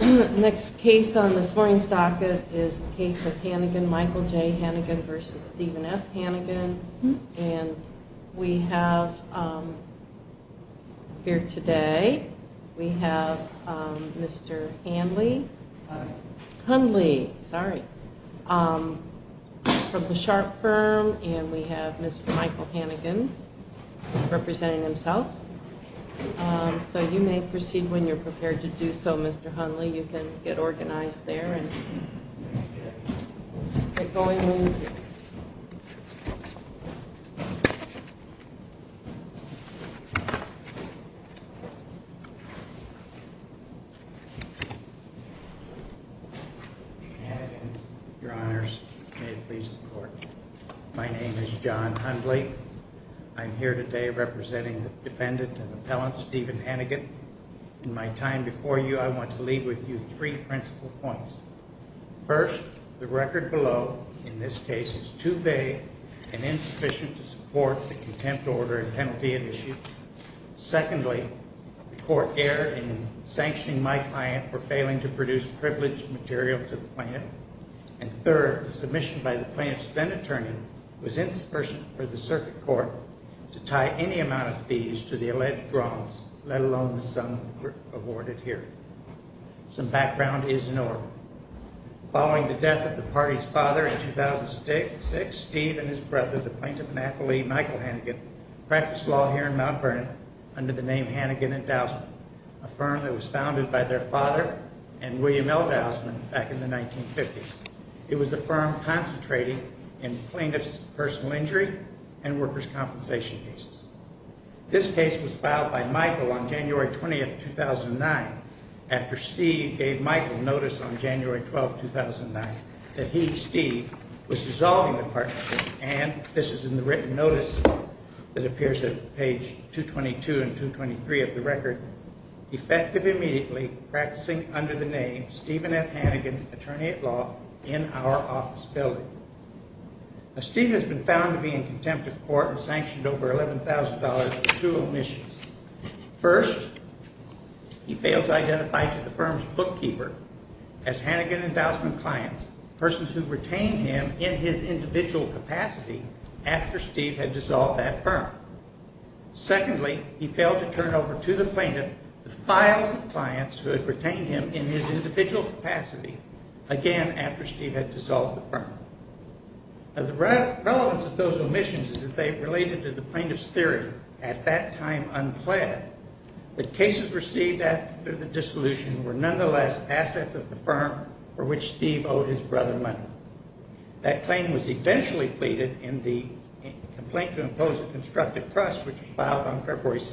Next case on this morning's docket is the case of Hanagan, Michael J. Hanagan v. Stephen F. Hanagan. And we have here today, we have Mr. Hanley. Hanley. Hanley, sorry. From the Sharp firm, and we have Mr. Michael Hanagan representing himself. So you may proceed when you're prepared to do so, Mr. Hanley. You can get organized there and get going when you're ready. Your Honors, may it please the Court. My name is John Hanley. I'm here today representing the defendant and appellant Stephen Hanagan. In my time before you, I want to leave with you three principal points. First, the record below in this case is too vague and insufficient to support the contempt order and penalty issue. Secondly, the Court erred in sanctioning my client for failing to produce privileged material to the plaintiff. And third, the submission by the plaintiff's then-attorney was insufficient for the circuit court to tie any amount of fees to the alleged wrongs, let alone the sum awarded here. Some background is in order. Following the death of the party's father in 2006, Steve and his brother, the plaintiff and appellee Michael Hanagan, practiced law here in Mount Vernon under the name Hanagan and Dousman, a firm that was founded by their father and William L. Dousman back in the 1950s. It was a firm concentrating in plaintiff's personal injury and workers' compensation cases. This case was filed by Michael on January 20, 2009, after Steve gave Michael notice on January 12, 2009, that he, Steve, was dissolving the partnership. And this is in the written notice that appears at page 222 and 223 of the record, effective immediately, practicing under the name Stephen F. Hanagan, attorney at law, in our office building. Now, Steve has been found to be in contempt of court and sanctioned over $11,000 for two omissions. First, he fails to identify to the firm's bookkeeper as Hanagan and Dousman clients, persons who retained him in his individual capacity after Steve had dissolved that firm. Secondly, he failed to turn over to the plaintiff the files of clients who had retained him in his individual capacity, again, after Steve had dissolved the firm. Now, the relevance of those omissions is that they related to the plaintiff's theory, at that time unplanned. The cases received after the dissolution were nonetheless assets of the firm for which Steve owed his brother money. That claim was eventually pleaded in the complaint to impose a constructive trust, which was filed on February 2,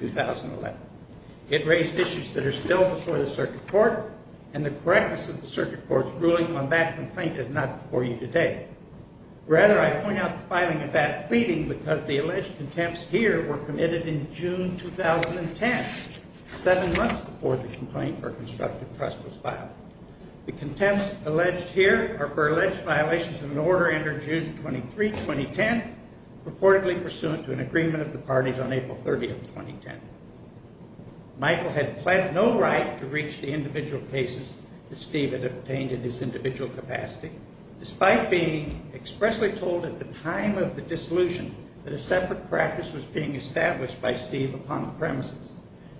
2011. It raised issues that are still before the circuit court, and the correctness of the circuit court's ruling on that complaint is not before you today. Rather, I point out the filing of that pleading because the alleged contempts here were committed in June 2010, seven months before the complaint for a constructive trust was filed. The contempts alleged here are for alleged violations of an order entered June 23, 2010, purportedly pursuant to an agreement of the parties on April 30, 2010. Michael had pled no right to reach the individual cases that Steve had obtained in his individual capacity, despite being expressly told at the time of the dissolution that a separate practice was being established by Steve upon the premises,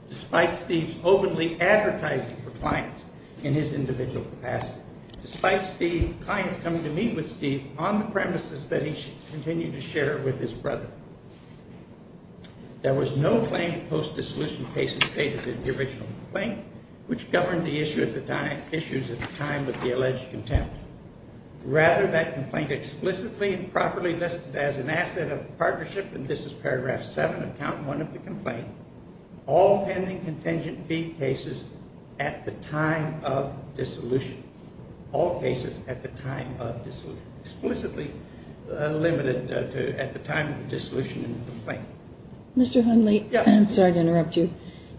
despite Steve's openly advertising for clients in his individual capacity, despite clients coming to meet with Steve on the premises that he continued to share with his brother. There was no claim post-dissolution cases stated in the original complaint, which governed the issues at the time of the alleged contempt. Rather, that complaint explicitly and properly listed as an asset of partnership, and this is paragraph 7 of count 1 of the complaint, all pending contingent B cases at the time of dissolution. All cases at the time of dissolution. Explicitly limited at the time of dissolution in the complaint. Mr. Hundley, I'm sorry to interrupt you.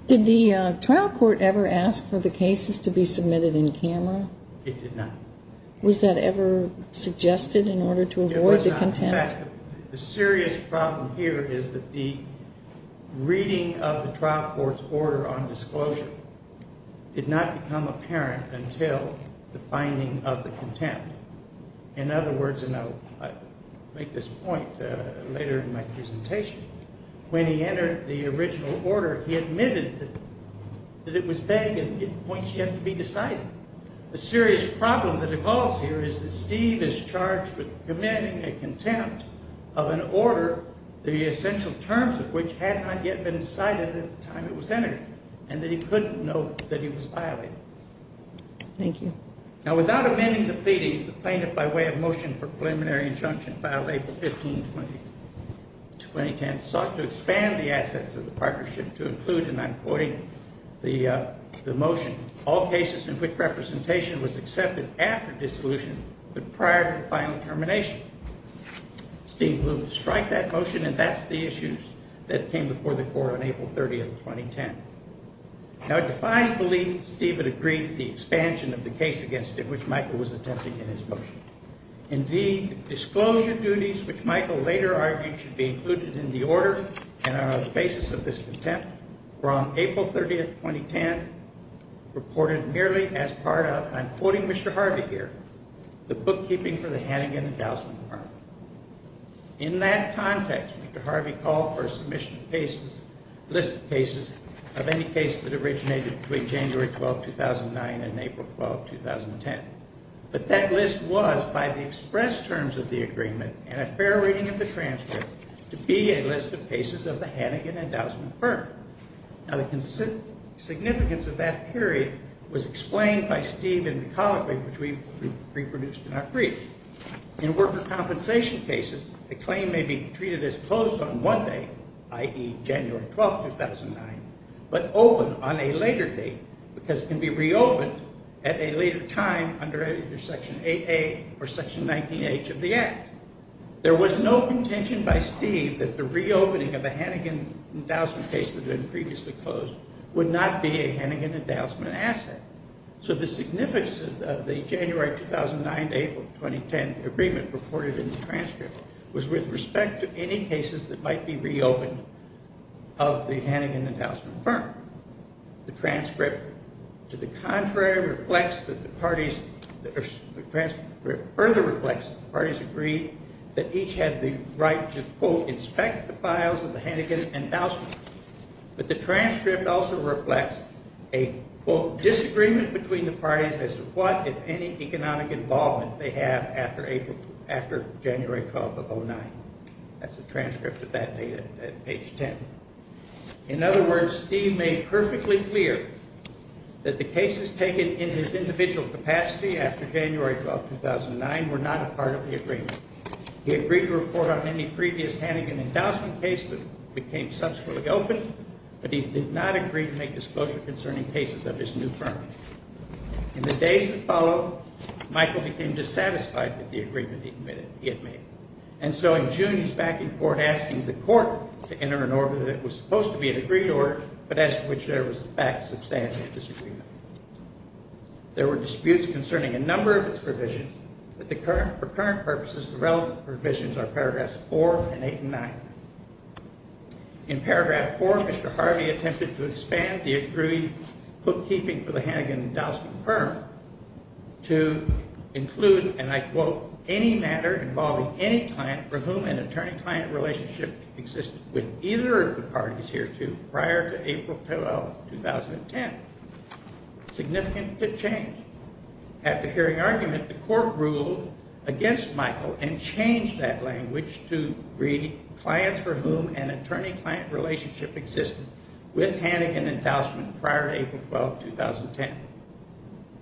Did the trial court ever ask for the cases to be submitted in camera? It did not. Was that ever suggested in order to avoid the contempt? The serious problem here is that the reading of the trial court's order on disclosure did not become apparent until the finding of the contempt. In other words, and I'll make this point later in my presentation, when he entered the original order, he admitted that it was vague and points yet to be decided. The serious problem that evolves here is that Steve is charged with committing a contempt of an order, the essential terms of which had not yet been decided at the time it was entered, and that he couldn't know that he was violating. Thank you. Now, without amending the pleadings, the plaintiff, by way of motion for preliminary injunction filed April 15, 2010, sought to expand the assets of the partnership to include, and I'm quoting the motion, all cases in which representation was accepted after dissolution but prior to final termination. Steve Blumenthal striked that motion, and that's the issues that came before the court on April 30, 2010. Now, it defies belief that Steve had agreed to the expansion of the case against him, which Michael was attempting in his motion. Indeed, disclosure duties, which Michael later argued should be included in the order and on the basis of this contempt, were on April 30, 2010, reported merely as part of, and I'm quoting Mr. Harvey here, the bookkeeping for the Hannigan Endowment Department. In that context, Mr. Harvey called for a submission of cases, list of cases, of any case that originated between January 12, 2009 and April 12, 2010. But that list was, by the express terms of the agreement and a fair reading of the transcript, to be a list of cases of the Hannigan Endowment firm. Now, the significance of that period was explained by Steve in the colloquy which we reproduced in our brief. In worker compensation cases, a claim may be treated as closed on one day, i.e., January 12, 2009, but open on a later date because it can be reopened at a later time under Section 8A or Section 19H of the Act. There was no contention by Steve that the reopening of a Hannigan Endowment case that had been previously closed would not be a Hannigan Endowment asset. So the significance of the January 2009 to April 2010 agreement reported in the transcript was with respect to any cases that might be reopened of the Hannigan Endowment firm. The transcript to the contrary reflects that the parties, or the transcript further reflects that the parties agreed that each had the right to, quote, inspect the files of the Hannigan Endowment. But the transcript also reflects a, quote, disagreement between the parties as to what, if any, economic involvement they have after April, after January 12 of 2009. That's the transcript of that date at page 10. In other words, Steve made perfectly clear that the cases taken in his individual capacity after January 12, 2009, were not a part of the agreement. He agreed to report on any previous Hannigan Endowment case that became subsequently open, but he did not agree to make disclosure concerning cases of his new firm. In the days that followed, Michael became dissatisfied with the agreement he had made. And so in June, he's back in court asking the court to enter an order that was supposed to be an agreed order, but as to which there was, in fact, substantial disagreement. There were disputes concerning a number of its provisions, but for current purposes, the relevant provisions are paragraphs 4 and 8 and 9. In paragraph 4, Mr. Harvey attempted to expand the agreed bookkeeping for the Hannigan Endowment firm to include, and I quote, any matter involving any client for whom an attorney-client relationship existed with either of the parties hereto prior to April 12, 2010. Significant to change. After hearing argument, the court ruled against Michael and changed that language to read clients for whom an attorney-client relationship existed with Hannigan Endowment prior to April 12, 2010.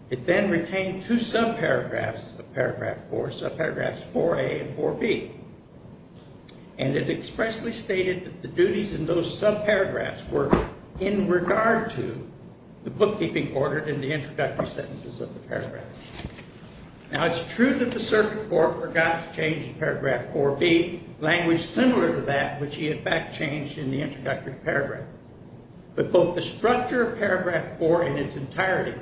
It then retained two subparagraphs of paragraph 4, subparagraphs 4A and 4B. And it expressly stated that the duties in those subparagraphs were in regard to the bookkeeping ordered in the introductory sentences of the paragraph. Now it's true that the circuit court forgot to change paragraph 4B, language similar to that which he, in fact, changed in the introductory paragraph. But both the structure of paragraph 4 in its entirety,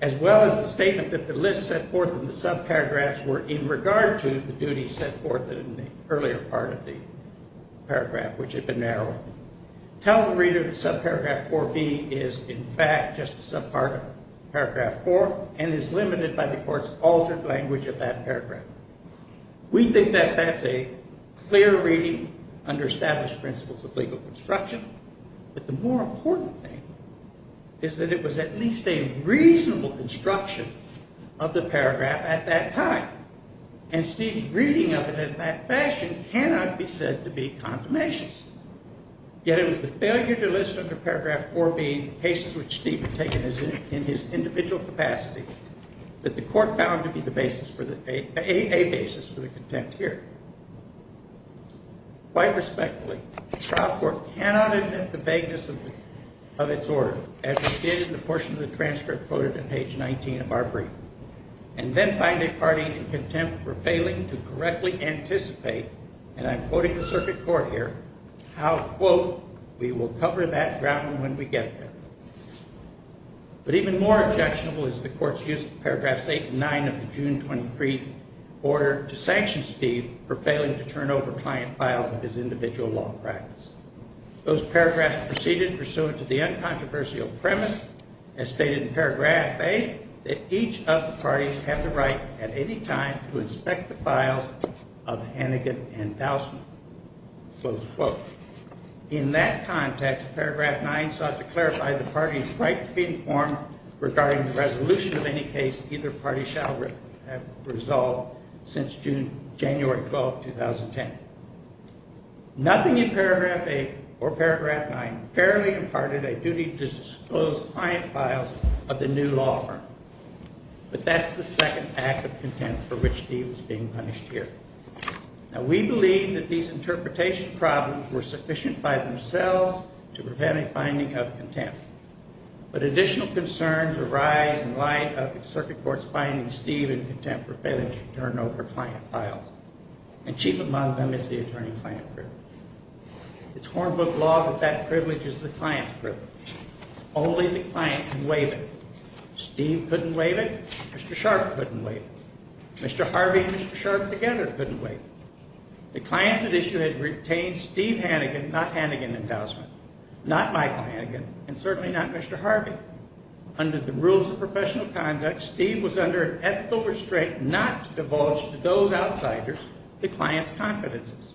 as well as the statement that the list set forth in the subparagraphs were in regard to the duties set forth in the earlier part of the paragraph, which had been narrowed, tell the reader that subparagraph 4B is, in fact, just a subpart of paragraph 4 and is limited by the court's altered language of that paragraph. We think that that's a clear reading under established principles of legal construction. But the more important thing is that it was at least a reasonable construction of the paragraph at that time. And Steve's reading of it in that fashion cannot be said to be confirmation. Yet it was the failure to list under paragraph 4B cases which Steve had taken in his individual capacity that the court found to be a basis for the contempt here. Quite respectfully, the trial court cannot admit the vagueness of its order, as it did in the portion of the transcript quoted in page 19 of our brief, and then find it parting in contempt for failing to correctly anticipate, and I'm quoting the circuit court here, how, quote, we will cover that ground when we get there. But even more objectionable is the court's use of paragraphs 8 and 9 of the June 23 order to sanction Steve for failing to turn over client files of his individual law practice. Those paragraphs proceeded pursuant to the uncontroversial premise, as stated in paragraph 8, that each of the parties have the right at any time to inspect the files of Hannigan and Bausman, close quote. In that context, paragraph 9 sought to clarify the parties' right to be informed regarding the resolution of any case either party shall have resolved since January 12, 2010. Nothing in paragraph 8 or paragraph 9 fairly imparted a duty to disclose client files of the new law firm. But that's the second act of contempt for which Steve is being punished here. Now, we believe that these interpretation problems were sufficient by themselves to prevent a finding of contempt. But additional concerns arise in light of the circuit court's finding Steve in contempt for failing to turn over client files. And chief among them is the attorney-client privilege. It's hornbook law that that privilege is the client's privilege. Only the client can waive it. Steve couldn't waive it. Mr. Sharp couldn't waive it. Mr. Harvey and Mr. Sharp together couldn't waive it. The clients at issue had retained Steve Hannigan, not Hannigan and Bausman, not Michael Hannigan, and certainly not Mr. Harvey. Under the rules of professional conduct, Steve was under an ethical restraint not to divulge to those outsiders the client's confidences.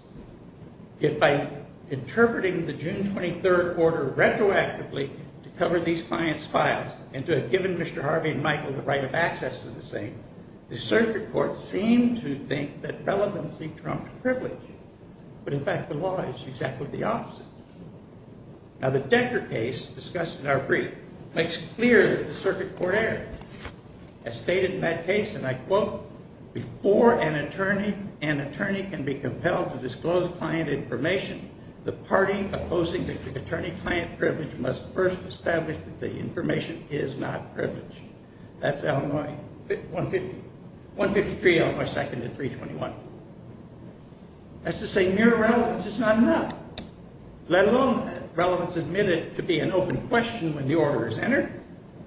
Yet by interpreting the June 23rd order retroactively to cover these clients' files and to have given Mr. Harvey and Michael the right of access to the same, the circuit court seemed to think that relevancy trumped privilege. But in fact, the law is exactly the opposite. Now, the Decker case discussed in our brief makes clear that the circuit court error. As stated in that case, and I quote, before an attorney can be compelled to disclose client information, the party opposing the attorney-client privilege must first establish that the information is not privilege. That's Illinois 153, Illinois 2nd at 321. That's to say mere relevance is not enough. Let alone that relevance admitted to be an open question when the order is entered,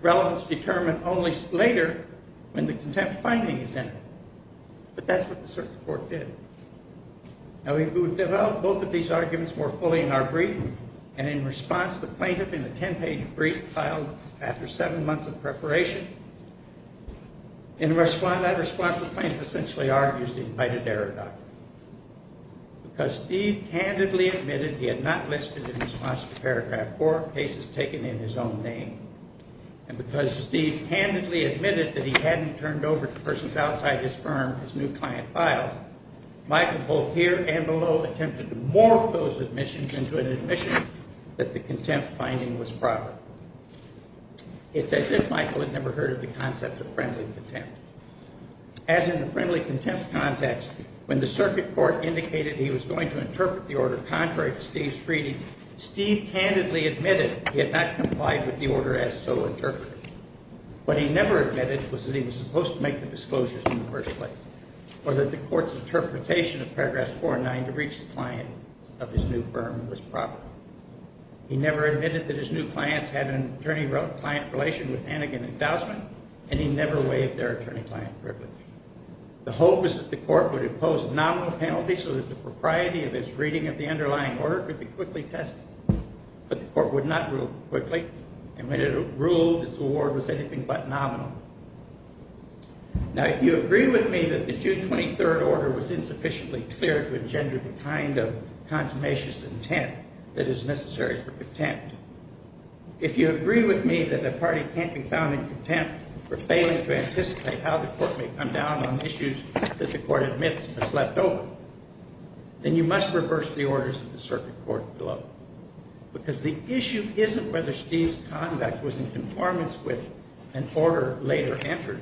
relevance determined only later when the contempt finding is entered. But that's what the circuit court did. Now, we developed both of these arguments more fully in our brief, and in response, the plaintiff in a 10-page brief filed after seven months of preparation and in response, the plaintiff essentially argues the invited error doctrine. Because Steve candidly admitted he had not listed in response to paragraph 4 cases taken in his own name, and because Steve candidly admitted that he hadn't turned over to persons outside his firm his new client file, Michael both here and below attempted to morph those admissions into an admission that the contempt finding was proper. It's as if Michael had never heard of the concept of friendly contempt. As in the friendly contempt context, when the circuit court indicated he was going to interpret the order contrary to Steve's treaty, Steve candidly admitted he had not complied with the order as so interpreted. What he never admitted was that he was supposed to make the disclosures in the first place, or that the court's interpretation of paragraphs 4 and 9 to reach the client of his new firm was proper. He never admitted that his new clients had an attorney-client relation with Hannigan Endowment, and he never waived their attorney-client privilege. The hope was that the court would impose nominal penalties so that the propriety of its reading of the underlying order could be quickly tested. But the court would not rule quickly, and when it ruled, its award was anything but nominal. Now, if you agree with me that the June 23rd order was insufficiently clear to engender the kind of consummationist intent that is necessary for contempt, if you agree with me that a party can't be found in contempt for failing to anticipate how the court may come down on issues that the court admits was left open, then you must reverse the orders of the circuit court below. Because the issue isn't whether Steve's conduct was in conformance with an order later entered.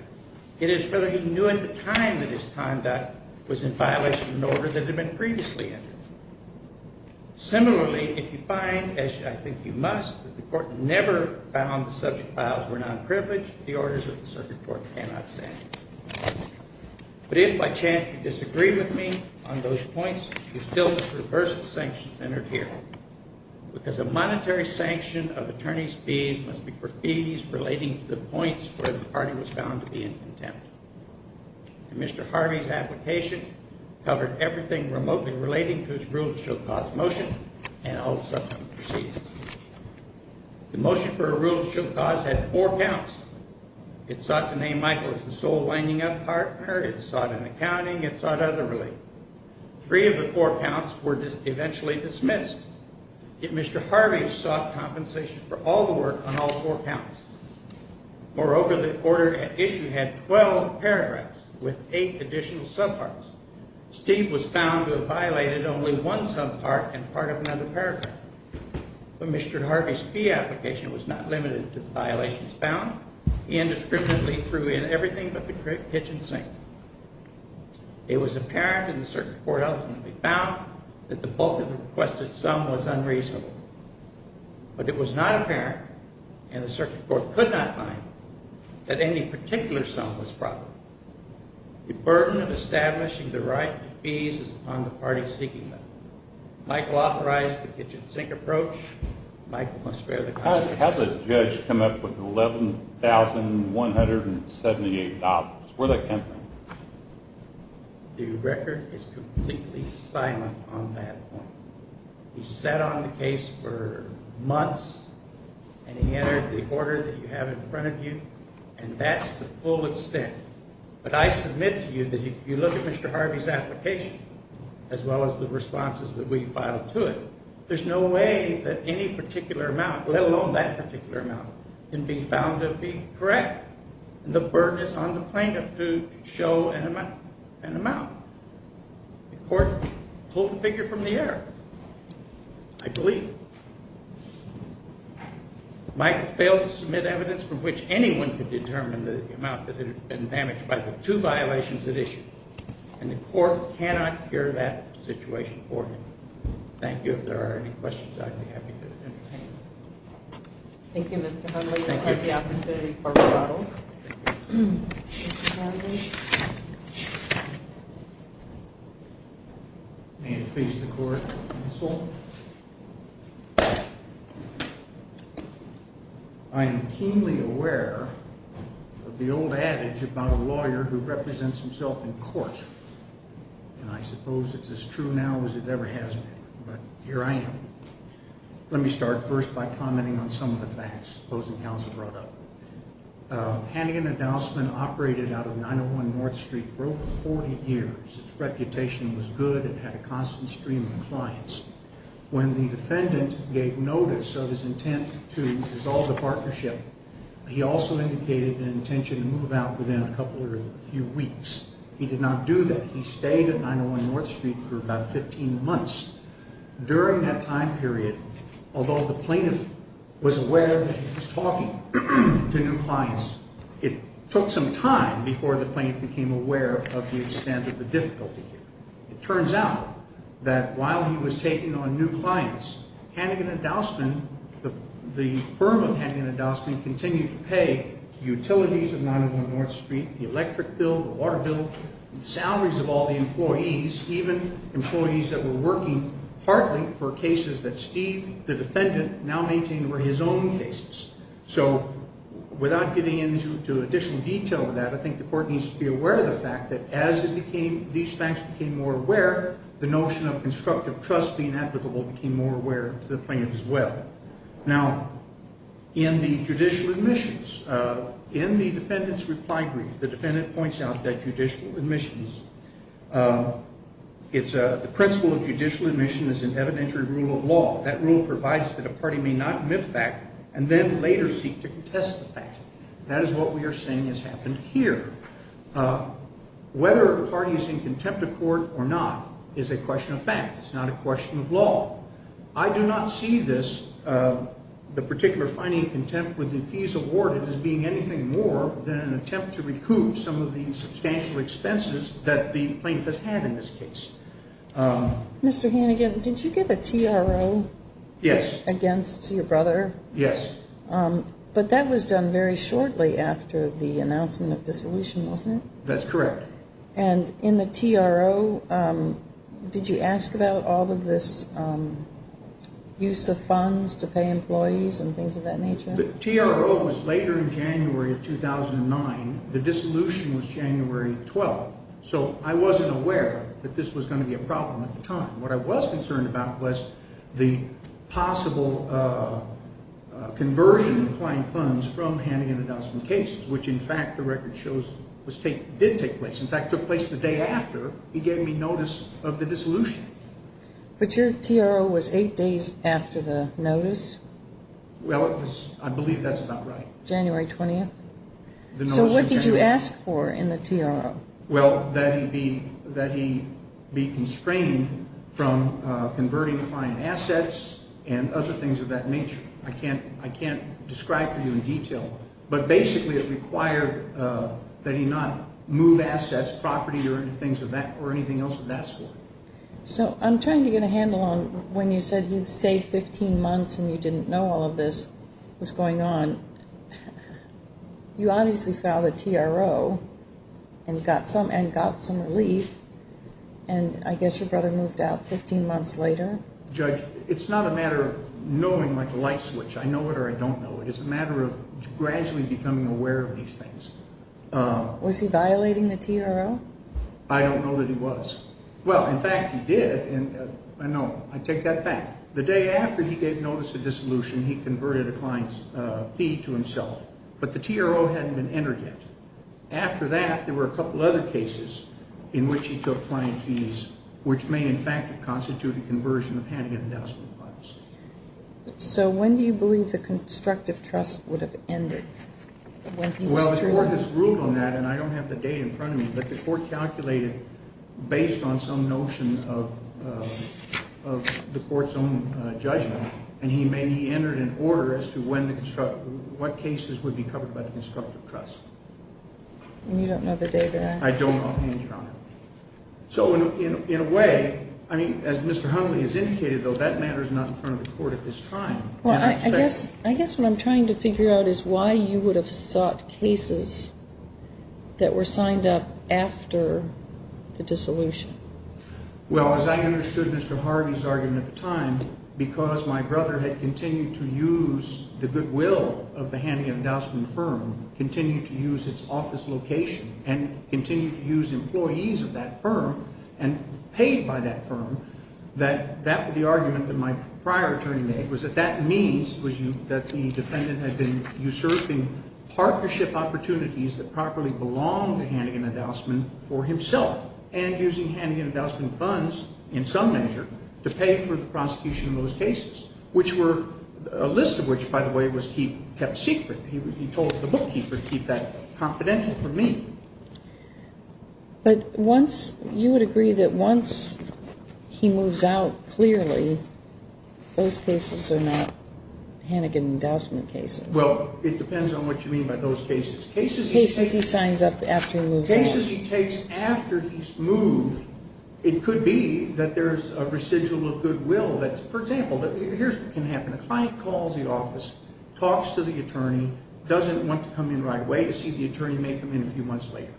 It is whether he knew at the time that his conduct was in violation of an order that had been previously entered. Similarly, if you find, as I think you must, that the court never found the subject files were nonprivileged, the orders of the circuit court cannot stand. But if by chance you disagree with me on those points, you still must reverse the sanctions entered here. Because a monetary sanction of attorney's fees must be for fees relating to the points where the party was found to be in contempt. And Mr. Harvey's application covered everything remotely relating to his rule-of-show-cause motion and all subsequent proceedings. The motion for a rule-of-show-cause had four counts. It sought to name Michael as the sole lining-up partner. It sought an accounting. It sought other relief. Three of the four counts were eventually dismissed. Yet Mr. Harvey sought compensation for all the work on all four counts. Moreover, the order at issue had 12 paragraphs with eight additional subparts. Steve was found to have violated only one subpart and part of another paragraph. But Mr. Harvey's fee application was not limited to the violations found. He indiscriminately threw in everything but the kitchen sink. It was apparent in the circuit court ultimately found that the bulk of the requested sum was unreasonable. But it was not apparent, and the circuit court could not find, that any particular sum was proper. The burden of establishing the right to fees is upon the party seeking them. Michael authorized the kitchen sink approach. Michael must bear the consequences. How does a judge come up with $11,178? Where'd that come from? The record is completely silent on that point. He sat on the case for months, and he entered the order that you have in front of you, and that's the full extent. But I submit to you that if you look at Mr. Harvey's application, as well as the responses that we filed to it, there's no way that any particular amount, let alone that particular amount, can be found to be correct. And the burden is on the plaintiff to show an amount. The court pulled the figure from the air, I believe. Michael failed to submit evidence from which anyone could determine the amount that had been damaged by the two violations it issued. And the court cannot hear that situation for him. Thank you. If there are any questions, I'd be happy to entertain them. Thank you, Mr. Connolly. Thank you. May it please the court, counsel. I am keenly aware of the old adage about a lawyer who represents himself in court. And I suppose it's as true now as it ever has been. But here I am. Let me start first by commenting on some of the facts the opposing counsel brought up. Hannigan and Dousman operated out of 901 North Street for over 40 years. Its reputation was good. It had a constant stream of clients. When the defendant gave notice of his intent to dissolve the partnership, he also indicated an intention to move out within a couple or a few weeks. He did not do that. He stayed at 901 North Street for about 15 months. During that time period, although the plaintiff was aware that he was talking to new clients, it took some time before the plaintiff became aware of the extent of the difficulty here. It turns out that while he was taking on new clients, Hannigan and Dousman, the firm of Hannigan and Dousman, the utilities of 901 North Street, the electric bill, the water bill, the salaries of all the employees, even employees that were working partly for cases that Steve, the defendant, now maintained were his own cases. So without getting into additional detail on that, I think the court needs to be aware of the fact that as these facts became more aware, the notion of constructive trust being applicable became more aware to the plaintiff as well. Now, in the judicial admissions, in the defendant's reply brief, the defendant points out that judicial admissions, the principle of judicial admission is an evidentiary rule of law. That rule provides that a party may not admit fact and then later seek to contest the fact. That is what we are saying has happened here. Whether a party is in contempt of court or not is a question of fact. It's not a question of law. I do not see this, the particular finding of contempt with the fees awarded, as being anything more than an attempt to recoup some of the substantial expenses that the plaintiff has had in this case. Mr. Hannigan, did you give a TRO against your brother? Yes. But that was done very shortly after the announcement of dissolution, wasn't it? That's correct. And in the TRO, did you ask about all of this use of funds to pay employees and things of that nature? The TRO was later in January of 2009. The dissolution was January 12th. So I wasn't aware that this was going to be a problem at the time. What I was concerned about was the possible conversion of client funds from Hannigan Adoption Cases, which, in fact, the record shows did take place. In fact, took place the day after he gave me notice of the dissolution. But your TRO was eight days after the notice? Well, I believe that's about right. January 20th? So what did you ask for in the TRO? Well, that he be constrained from converting client assets and other things of that nature. I can't describe to you in detail. But basically it required that he not move assets, property, or anything else of that sort. So I'm trying to get a handle on when you said he stayed 15 months and you didn't know all of this was going on. You obviously filed a TRO and got some relief, and I guess your brother moved out 15 months later? Judge, it's not a matter of knowing like a light switch. I know it or I don't know it. It's a matter of gradually becoming aware of these things. Was he violating the TRO? I don't know that he was. Well, in fact, he did. I know. I take that back. The day after he gave notice of dissolution, he converted a client's fee to himself. But the TRO hadn't been entered yet. After that, there were a couple other cases in which he took client fees, which may in fact have constituted conversion of Hannigan Adoption Funds. So when do you believe the constructive trust would have ended? Well, the court has ruled on that, and I don't have the date in front of me, but the court calculated based on some notion of the court's own judgment, and he may have entered an order as to what cases would be covered by the constructive trust. And you don't know the date of that? I don't, Your Honor. So in a way, I mean, as Mr. Hundley has indicated, though, that matter is not in front of the court at this time. Well, I guess what I'm trying to figure out is why you would have sought cases that were signed up after the dissolution. Well, as I understood Mr. Harvey's argument at the time, because my brother had continued to use the goodwill of the Hannigan Adoption Fund, continued to use its office location, and continued to use employees of that firm and paid by that firm, that the argument that my prior attorney made was that that means that the defendant had been usurping partnership opportunities that properly belonged to Hannigan Adoption Fund for himself, and using Hannigan Adoption Funds in some measure to pay for the prosecution of those cases, which were a list of which, by the way, was kept secret. He told the bookkeeper to keep that confidential from me. But you would agree that once he moves out clearly, those cases are not Hannigan endowment cases. Well, it depends on what you mean by those cases. Cases he signs up after he moves out. Cases he takes after he's moved. It could be that there's a residual of goodwill that's, for example, here's what can happen. A client calls the office, talks to the attorney, doesn't want to come in the right way to see if the attorney may come in a few months later.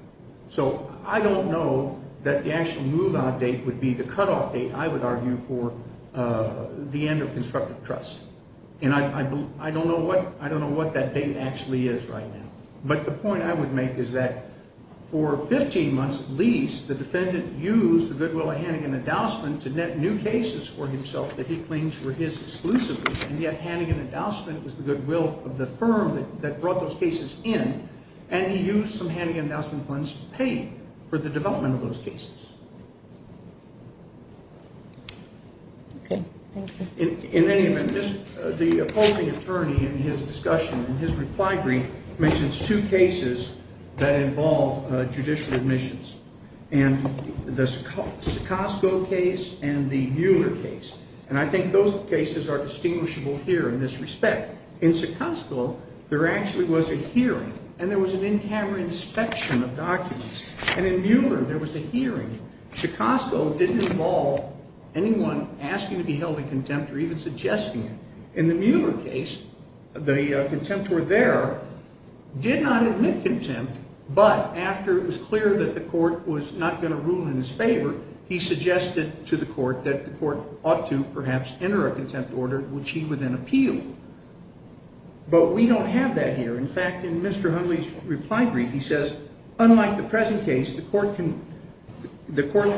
So I don't know that the actual move-out date would be the cutoff date, I would argue, for the end of constructive trust. And I don't know what that date actually is right now. But the point I would make is that for 15 months at least, the defendant used the goodwill of Hannigan Endowment to net new cases for himself that he claims were his exclusively, and yet Hannigan Endowment was the goodwill of the firm that brought those cases in, and he used some Hannigan Endowment funds to pay for the development of those cases. Okay, thank you. In any event, the opposing attorney in his discussion, in his reply brief, mentions two cases that involve judicial admissions, and the Sekosko case and the Mueller case. And I think those cases are distinguishable here in this respect. In Sekosko, there actually was a hearing, and there was an in-camera inspection of documents. And in Mueller, there was a hearing. Sekosko didn't involve anyone asking to be held in contempt or even suggesting it. In the Mueller case, the contempt were there, did not admit contempt, but after it was clear that the court was not going to rule in his favor, he suggested to the court that the court ought to perhaps enter a contempt order, which he would then appeal. But we don't have that here. In fact, in Mr. Hundley's reply brief, he says, unlike the present case, the court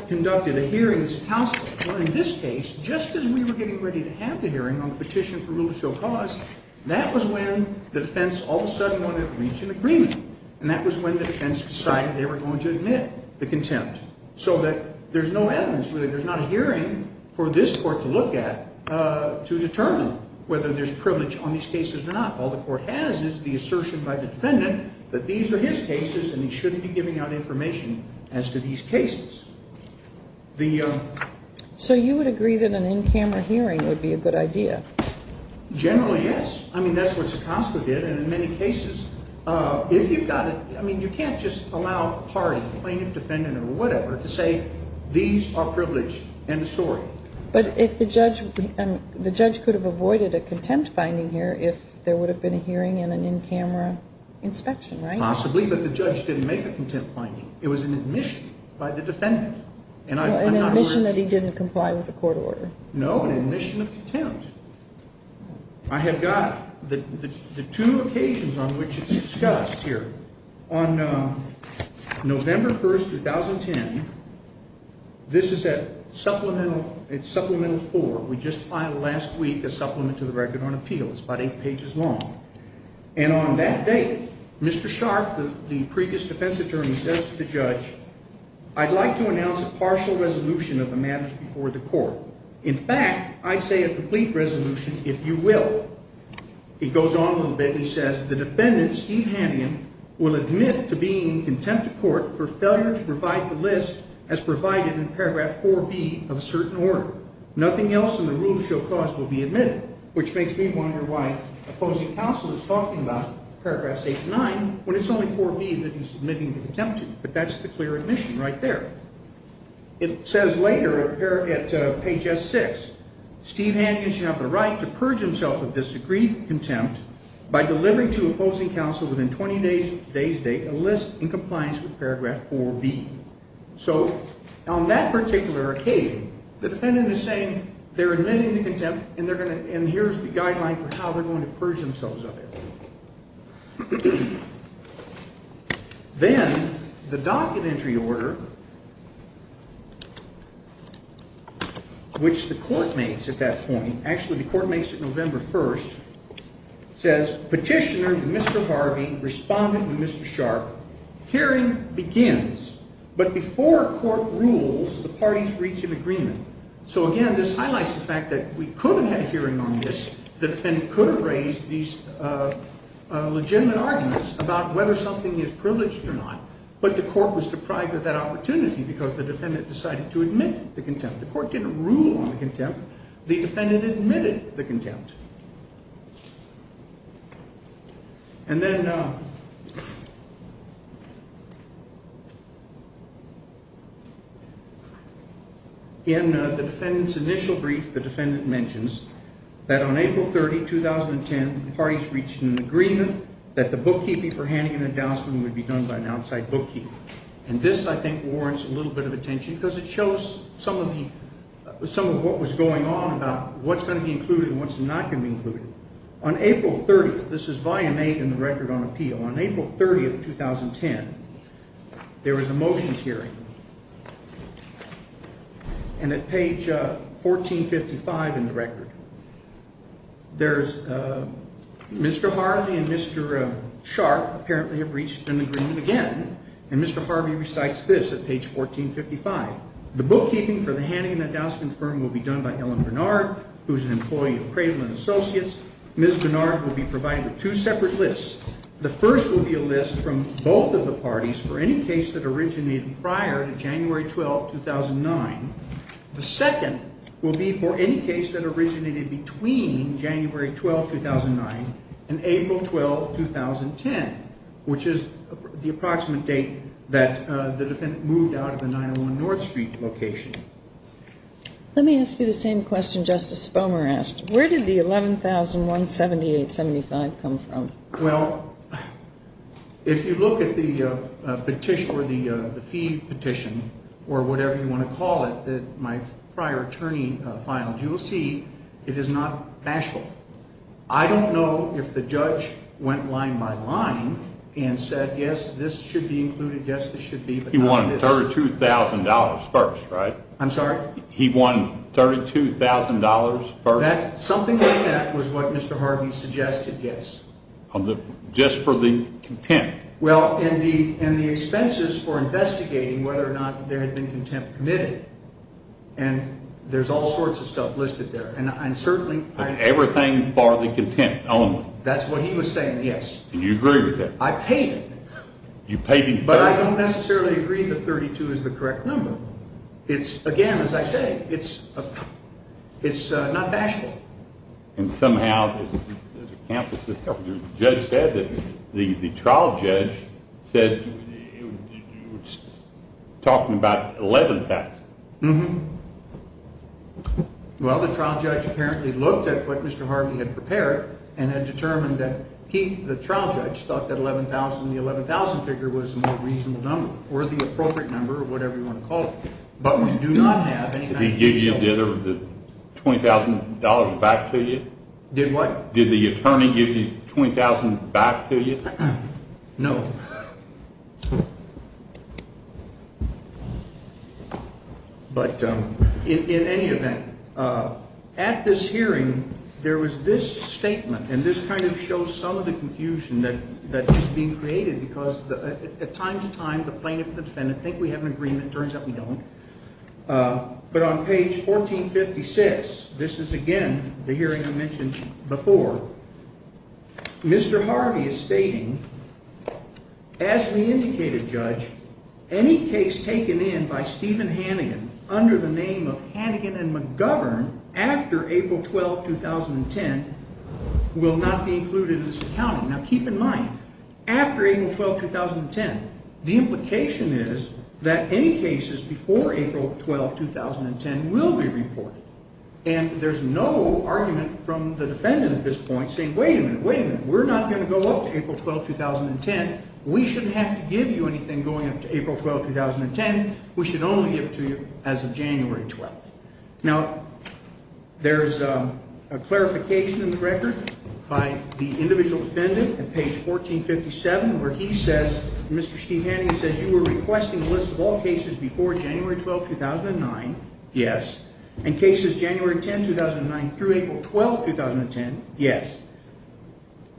conducted a hearing in this case, just as we were getting ready to have the hearing on the petition for rule of show cause. That was when the defense all of a sudden wanted to reach an agreement, and that was when the defense decided they were going to admit the contempt, so that there's no evidence, really. There's not a hearing for this court to look at to determine whether there's privilege on these cases or not. All the court has is the assertion by the defendant that these are his cases and he shouldn't be giving out information as to these cases. So you would agree that an in-camera hearing would be a good idea? Generally, yes. I mean, that's what Sekosko did. And in many cases, if you've got a ñ I mean, you can't just allow a party, a plaintiff, defendant, or whatever, to say these are privileged and a story. But if the judge ñ the judge could have avoided a contempt finding here if there would have been a hearing and an in-camera inspection, right? Possibly, but the judge didn't make a contempt finding. It was an admission by the defendant. An admission that he didn't comply with the court order. No, an admission of contempt. I have got the two occasions on which it's discussed here. On November 1, 2010, this is at Supplemental 4. We just filed last week a supplement to the Record on Appeals. It's about eight pages long. And on that date, Mr. Scharf, the previous defense attorney, says to the judge, I'd like to announce a partial resolution of the matters before the court. In fact, I'd say a complete resolution if you will. He goes on a little bit and he says, the defendant, Steve Hamian, will admit to being in contempt of court for failure to provide the list as provided in paragraph 4B of a certain order. Nothing else in the rule of show cause will be admitted, which makes me wonder why opposing counsel is talking about paragraphs 8 and 9 when it's only 4B that he's admitting to contempt in. But that's the clear admission right there. It says later here at page S6, Steve Hamian should have the right to purge himself of this agreed contempt by delivering to opposing counsel within 20 days' date a list in compliance with paragraph 4B. So, on that particular occasion, the defendant is saying they're admitting to contempt and here's the guideline for how they're going to purge themselves of it. Then the documentary order, which the court makes at that point, actually the court makes it November 1st, says, Petitioner to Mr. Harvey, Respondent to Mr. Sharp, hearing begins, but before court rules, the parties reach an agreement. So again, this highlights the fact that we could have had a hearing on this, the defendant could have raised these legitimate arguments about whether something is privileged or not, but the court was deprived of that opportunity because the defendant decided to admit the contempt. The court didn't rule on the contempt. The defendant admitted the contempt. And then in the defendant's initial brief, the defendant mentions that on April 30, 2010, the parties reached an agreement that the bookkeeping for Hannigan and Dowson would be done by an outside bookkeeper. And this, I think, warrants a little bit of attention because it shows some of what was going on about what's going to be included and what's not going to be included. On April 30th, this is Volume 8 in the Record on Appeal, on April 30th, 2010, there was a motions hearing. And at page 1455 in the Record, there's Mr. Harvey and Mr. Sharp apparently have reached an agreement again, and Mr. Harvey recites this at page 1455. The bookkeeping for the Hannigan and Dowson firm will be done by Ellen Bernard, who is an employee of Craven & Associates. Ms. Bernard will be provided with two separate lists. The first will be a list from both of the parties for any case that originated prior to January 12, 2009. The second will be for any case that originated between January 12, 2009 and April 12, 2010, which is the approximate date that the defendant moved out of the 901 North Street location. Let me ask you the same question Justice Spomer asked. Where did the 11,178.75 come from? Well, if you look at the petition or the fee petition or whatever you want to call it that my prior attorney filed, you will see it is not bashful. I don't know if the judge went line by line and said, yes, this should be included, yes, this should be, but not this. He won $32,000 first, right? I'm sorry? He won $32,000 first? Something like that was what Mr. Harvey suggested, yes. Just for the contempt? Well, in the expenses for investigating whether or not there had been contempt committed, and there's all sorts of stuff listed there. Everything for the contempt only? That's what he was saying, yes. And you agree with that? I paid him. You paid him $32,000? But I don't necessarily agree that $32,000 is the correct number. Again, as I say, it's not bashful. And somehow the trial judge said you were talking about $11,000. Well, the trial judge apparently looked at what Mr. Harvey had prepared and had determined that he, the trial judge, thought that $11,000 in the $11,000 figure was a more reasonable number, or the appropriate number, or whatever you want to call it. But we do not have any kind of detail. Did he give you the $20,000 back to you? Did what? Did the attorney give you $20,000 back to you? No. But in any event, at this hearing there was this statement, and this kind of shows some of the confusion that is being created because time to time the plaintiff and the defendant think we have an agreement. It turns out we don't. But on page 1456, this is again the hearing I mentioned before, Mr. Harvey is stating, as we indicated, Judge, any case taken in by Stephen Hannigan under the name of Hannigan and McGovern after April 12, 2010 will not be included in this accounting. Now keep in mind, after April 12, 2010, the implication is that any cases before April 12, 2010 will be reported. And there's no argument from the defendant at this point saying, wait a minute, wait a minute, we're not going to go up to April 12, 2010. We shouldn't have to give you anything going up to April 12, 2010. We should only give it to you as of January 12. Now there's a clarification in the record by the individual defendant at page 1457 where he says, Mr. Steve Hannigan says, you were requesting a list of all cases before January 12, 2009. Yes. And cases January 10, 2009 through April 12, 2010. Yes.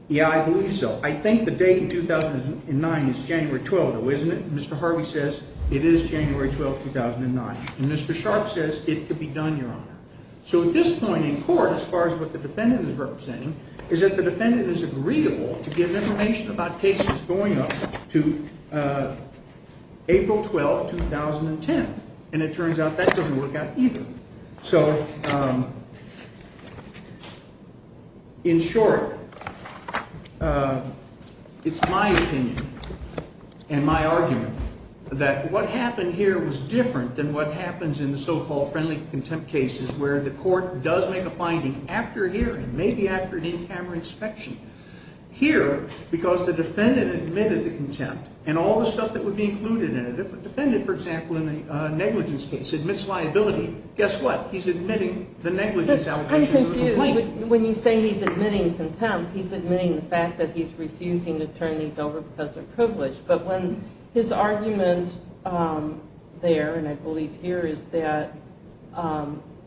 Yeah, I believe so. I think the date 2009 is January 12, though, isn't it? Mr. Harvey says it is January 12, 2009. And Mr. Sharp says it could be done, Your Honor. So at this point in court, as far as what the defendant is representing, is that the defendant is agreeable to give information about cases going up to April 12, 2010. And it turns out that doesn't work out either. So in short, it's my opinion and my argument that what happened here was different than what happens in the so-called friendly contempt cases where the court does make a finding after a hearing, maybe after an in-camera inspection. Here, because the defendant admitted the contempt and all the stuff that would be included in it, if a defendant, for example, in a negligence case admits liability, guess what? He's admitting the negligence allegation. I'm confused. When you say he's admitting contempt, he's admitting the fact that he's refusing to turn these over because they're privileged. But when his argument there, and I believe here, is that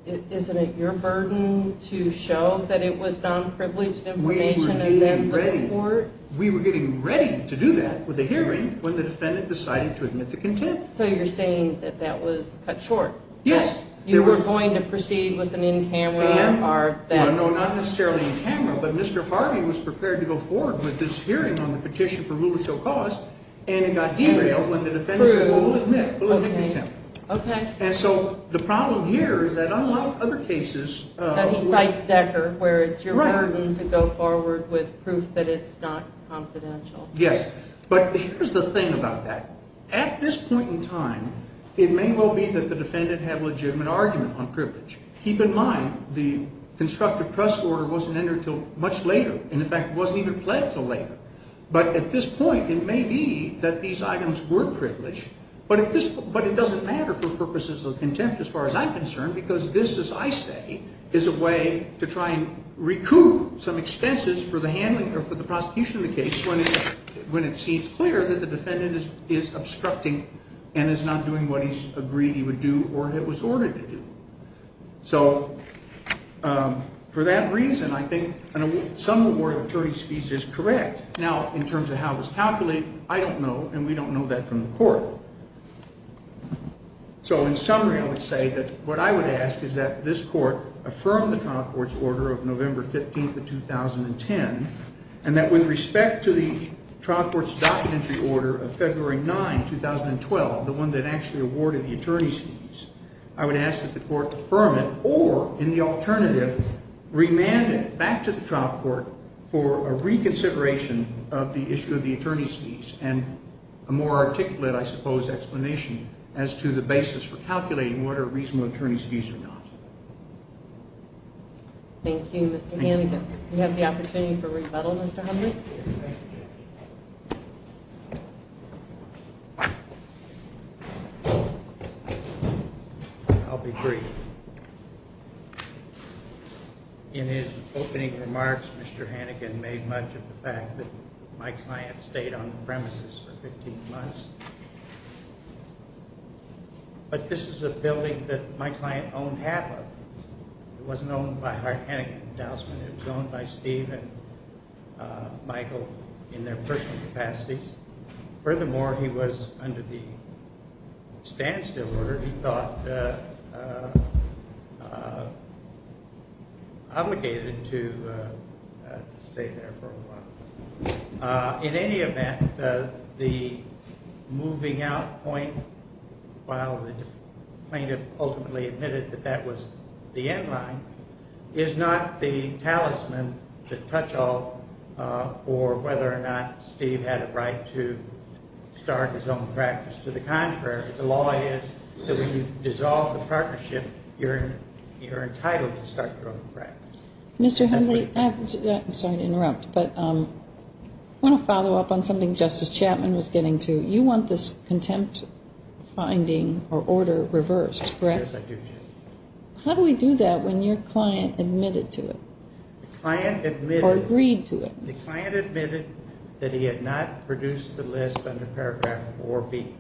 isn't it your burden to show that it was non-privileged information and then look at the court? We were getting ready to do that with a hearing when the defendant decided to admit the contempt. So you're saying that that was cut short? Yes. You were going to proceed with an in-camera or that? No, not necessarily in-camera, but Mr. Harvey was prepared to go forward with this hearing on the petition for rule of show cause and it got derailed when the defendant said, well, we'll admit, we'll admit contempt. Okay. And so the problem here is that unlike other cases- That he cites Decker, where it's your burden to go forward with proof that it's not confidential. Yes. But here's the thing about that. At this point in time, it may well be that the defendant had a legitimate argument on privilege. Keep in mind, the constructive trust order wasn't entered until much later, and, in fact, wasn't even pledged until later. But at this point, it may be that these items were privileged, but it doesn't matter for purposes of contempt as far as I'm concerned, because this, as I say, is a way to try and recoup some expenses for the prosecution of the case when it seems clear that the defendant is obstructing and is not doing what he's agreed he would do or it was ordered to do. So for that reason, I think some award of attorney's fees is correct. Now, in terms of how it was calculated, I don't know, and we don't know that from the court. So in summary, I would say that what I would ask is that this court affirm the trial court's order of November 15th of 2010 and that with respect to the trial court's documentary order of February 9, 2012, the one that actually awarded the attorney's fees, I would ask that the court affirm it or, in the alternative, remand it back to the trial court for a reconsideration of the issue of the attorney's fees and a more articulate, I suppose, explanation as to the basis for calculating what are reasonable attorney's fees or not. Thank you, Mr. Hannigan. Do we have the opportunity for rebuttal, Mr. Humphrey? I'll be brief. In his opening remarks, Mr. Hannigan made much of the fact that my client stayed on the premises for 15 months. But this is a building that my client owned half of. It wasn't owned by Hart Hannigan and Dousman. It was owned by Steve and Michael in their personal capacities. Furthermore, he was under the standstill order. He thought obligated to stay there for a while. In any event, the moving out point, while the plaintiff ultimately admitted that that was the end line, is not the talisman to touch on for whether or not Steve had a right to start his own practice. To the contrary, the law is that when you dissolve the partnership, you're entitled to start your own practice. Mr. Humphrey, I'm sorry to interrupt, but I want to follow up on something Justice Chapman was getting to. You want this contempt finding or order reversed, correct? Yes, I do. How do we do that when your client admitted to it or agreed to it? The client admitted that he had not produced the list under paragraph 4B.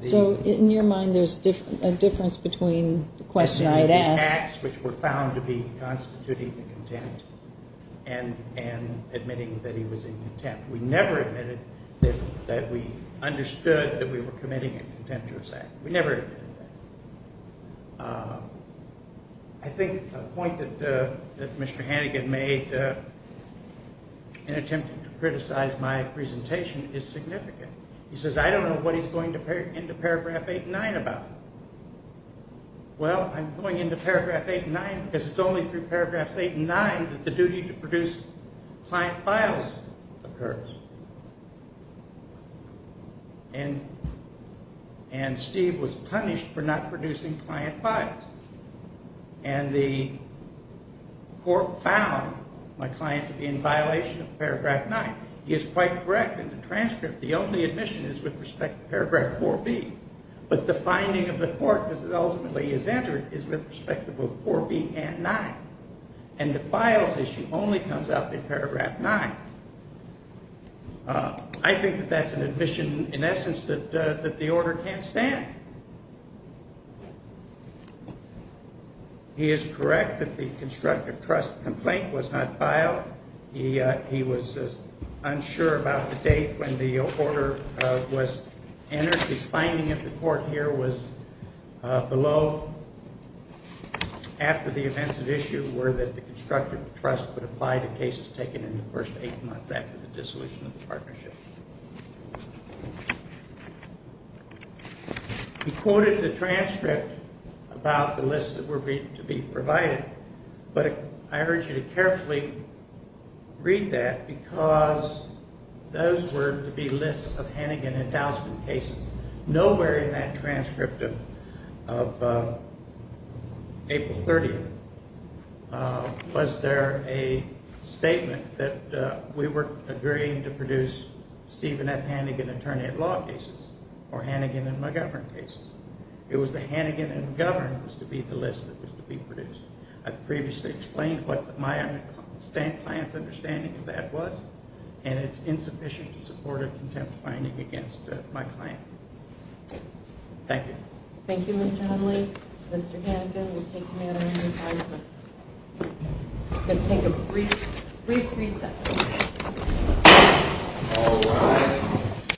So in your mind, there's a difference between the question I'd asked. Acts which were found to be constituting the contempt and admitting that he was in contempt. We never admitted that we understood that we were committing a contemptuous act. We never admitted that. I think a point that Mr. Hannigan made in attempting to criticize my presentation is significant. He says, I don't know what he's going into paragraph 8 and 9 about. Well, I'm going into paragraph 8 and 9 because it's only through paragraphs 8 and 9 that the duty to produce client files occurs. And Steve was punished for not producing client files. And the court found my client to be in violation of paragraph 9. He is quite correct in the transcript. The only admission is with respect to paragraph 4B. But the finding of the court, because it ultimately is entered, is with respect to both 4B and 9. And the files issue only comes up in paragraph 9. I think that that's an admission, in essence, that the order can't stand. He is correct that the constructive trust complaint was not filed. He was unsure about the date when the order was entered. The finding of the court here was below, after the events at issue, were that the constructive trust would apply to cases taken in the first eight months after the dissolution of the partnership. He quoted the transcript about the lists that were to be provided. But I urge you to carefully read that because those were to be lists of Hannigan endowment cases. Nowhere in that transcript of April 30th was there a statement that we were agreeing to produce Stephen F. Hannigan attorney at law cases or Hannigan and McGovern cases. It was the Hannigan and McGovern that was to be the list that was to be produced. I've previously explained what my client's understanding of that was, and it's insufficient to support a contempt finding against my client. Thank you.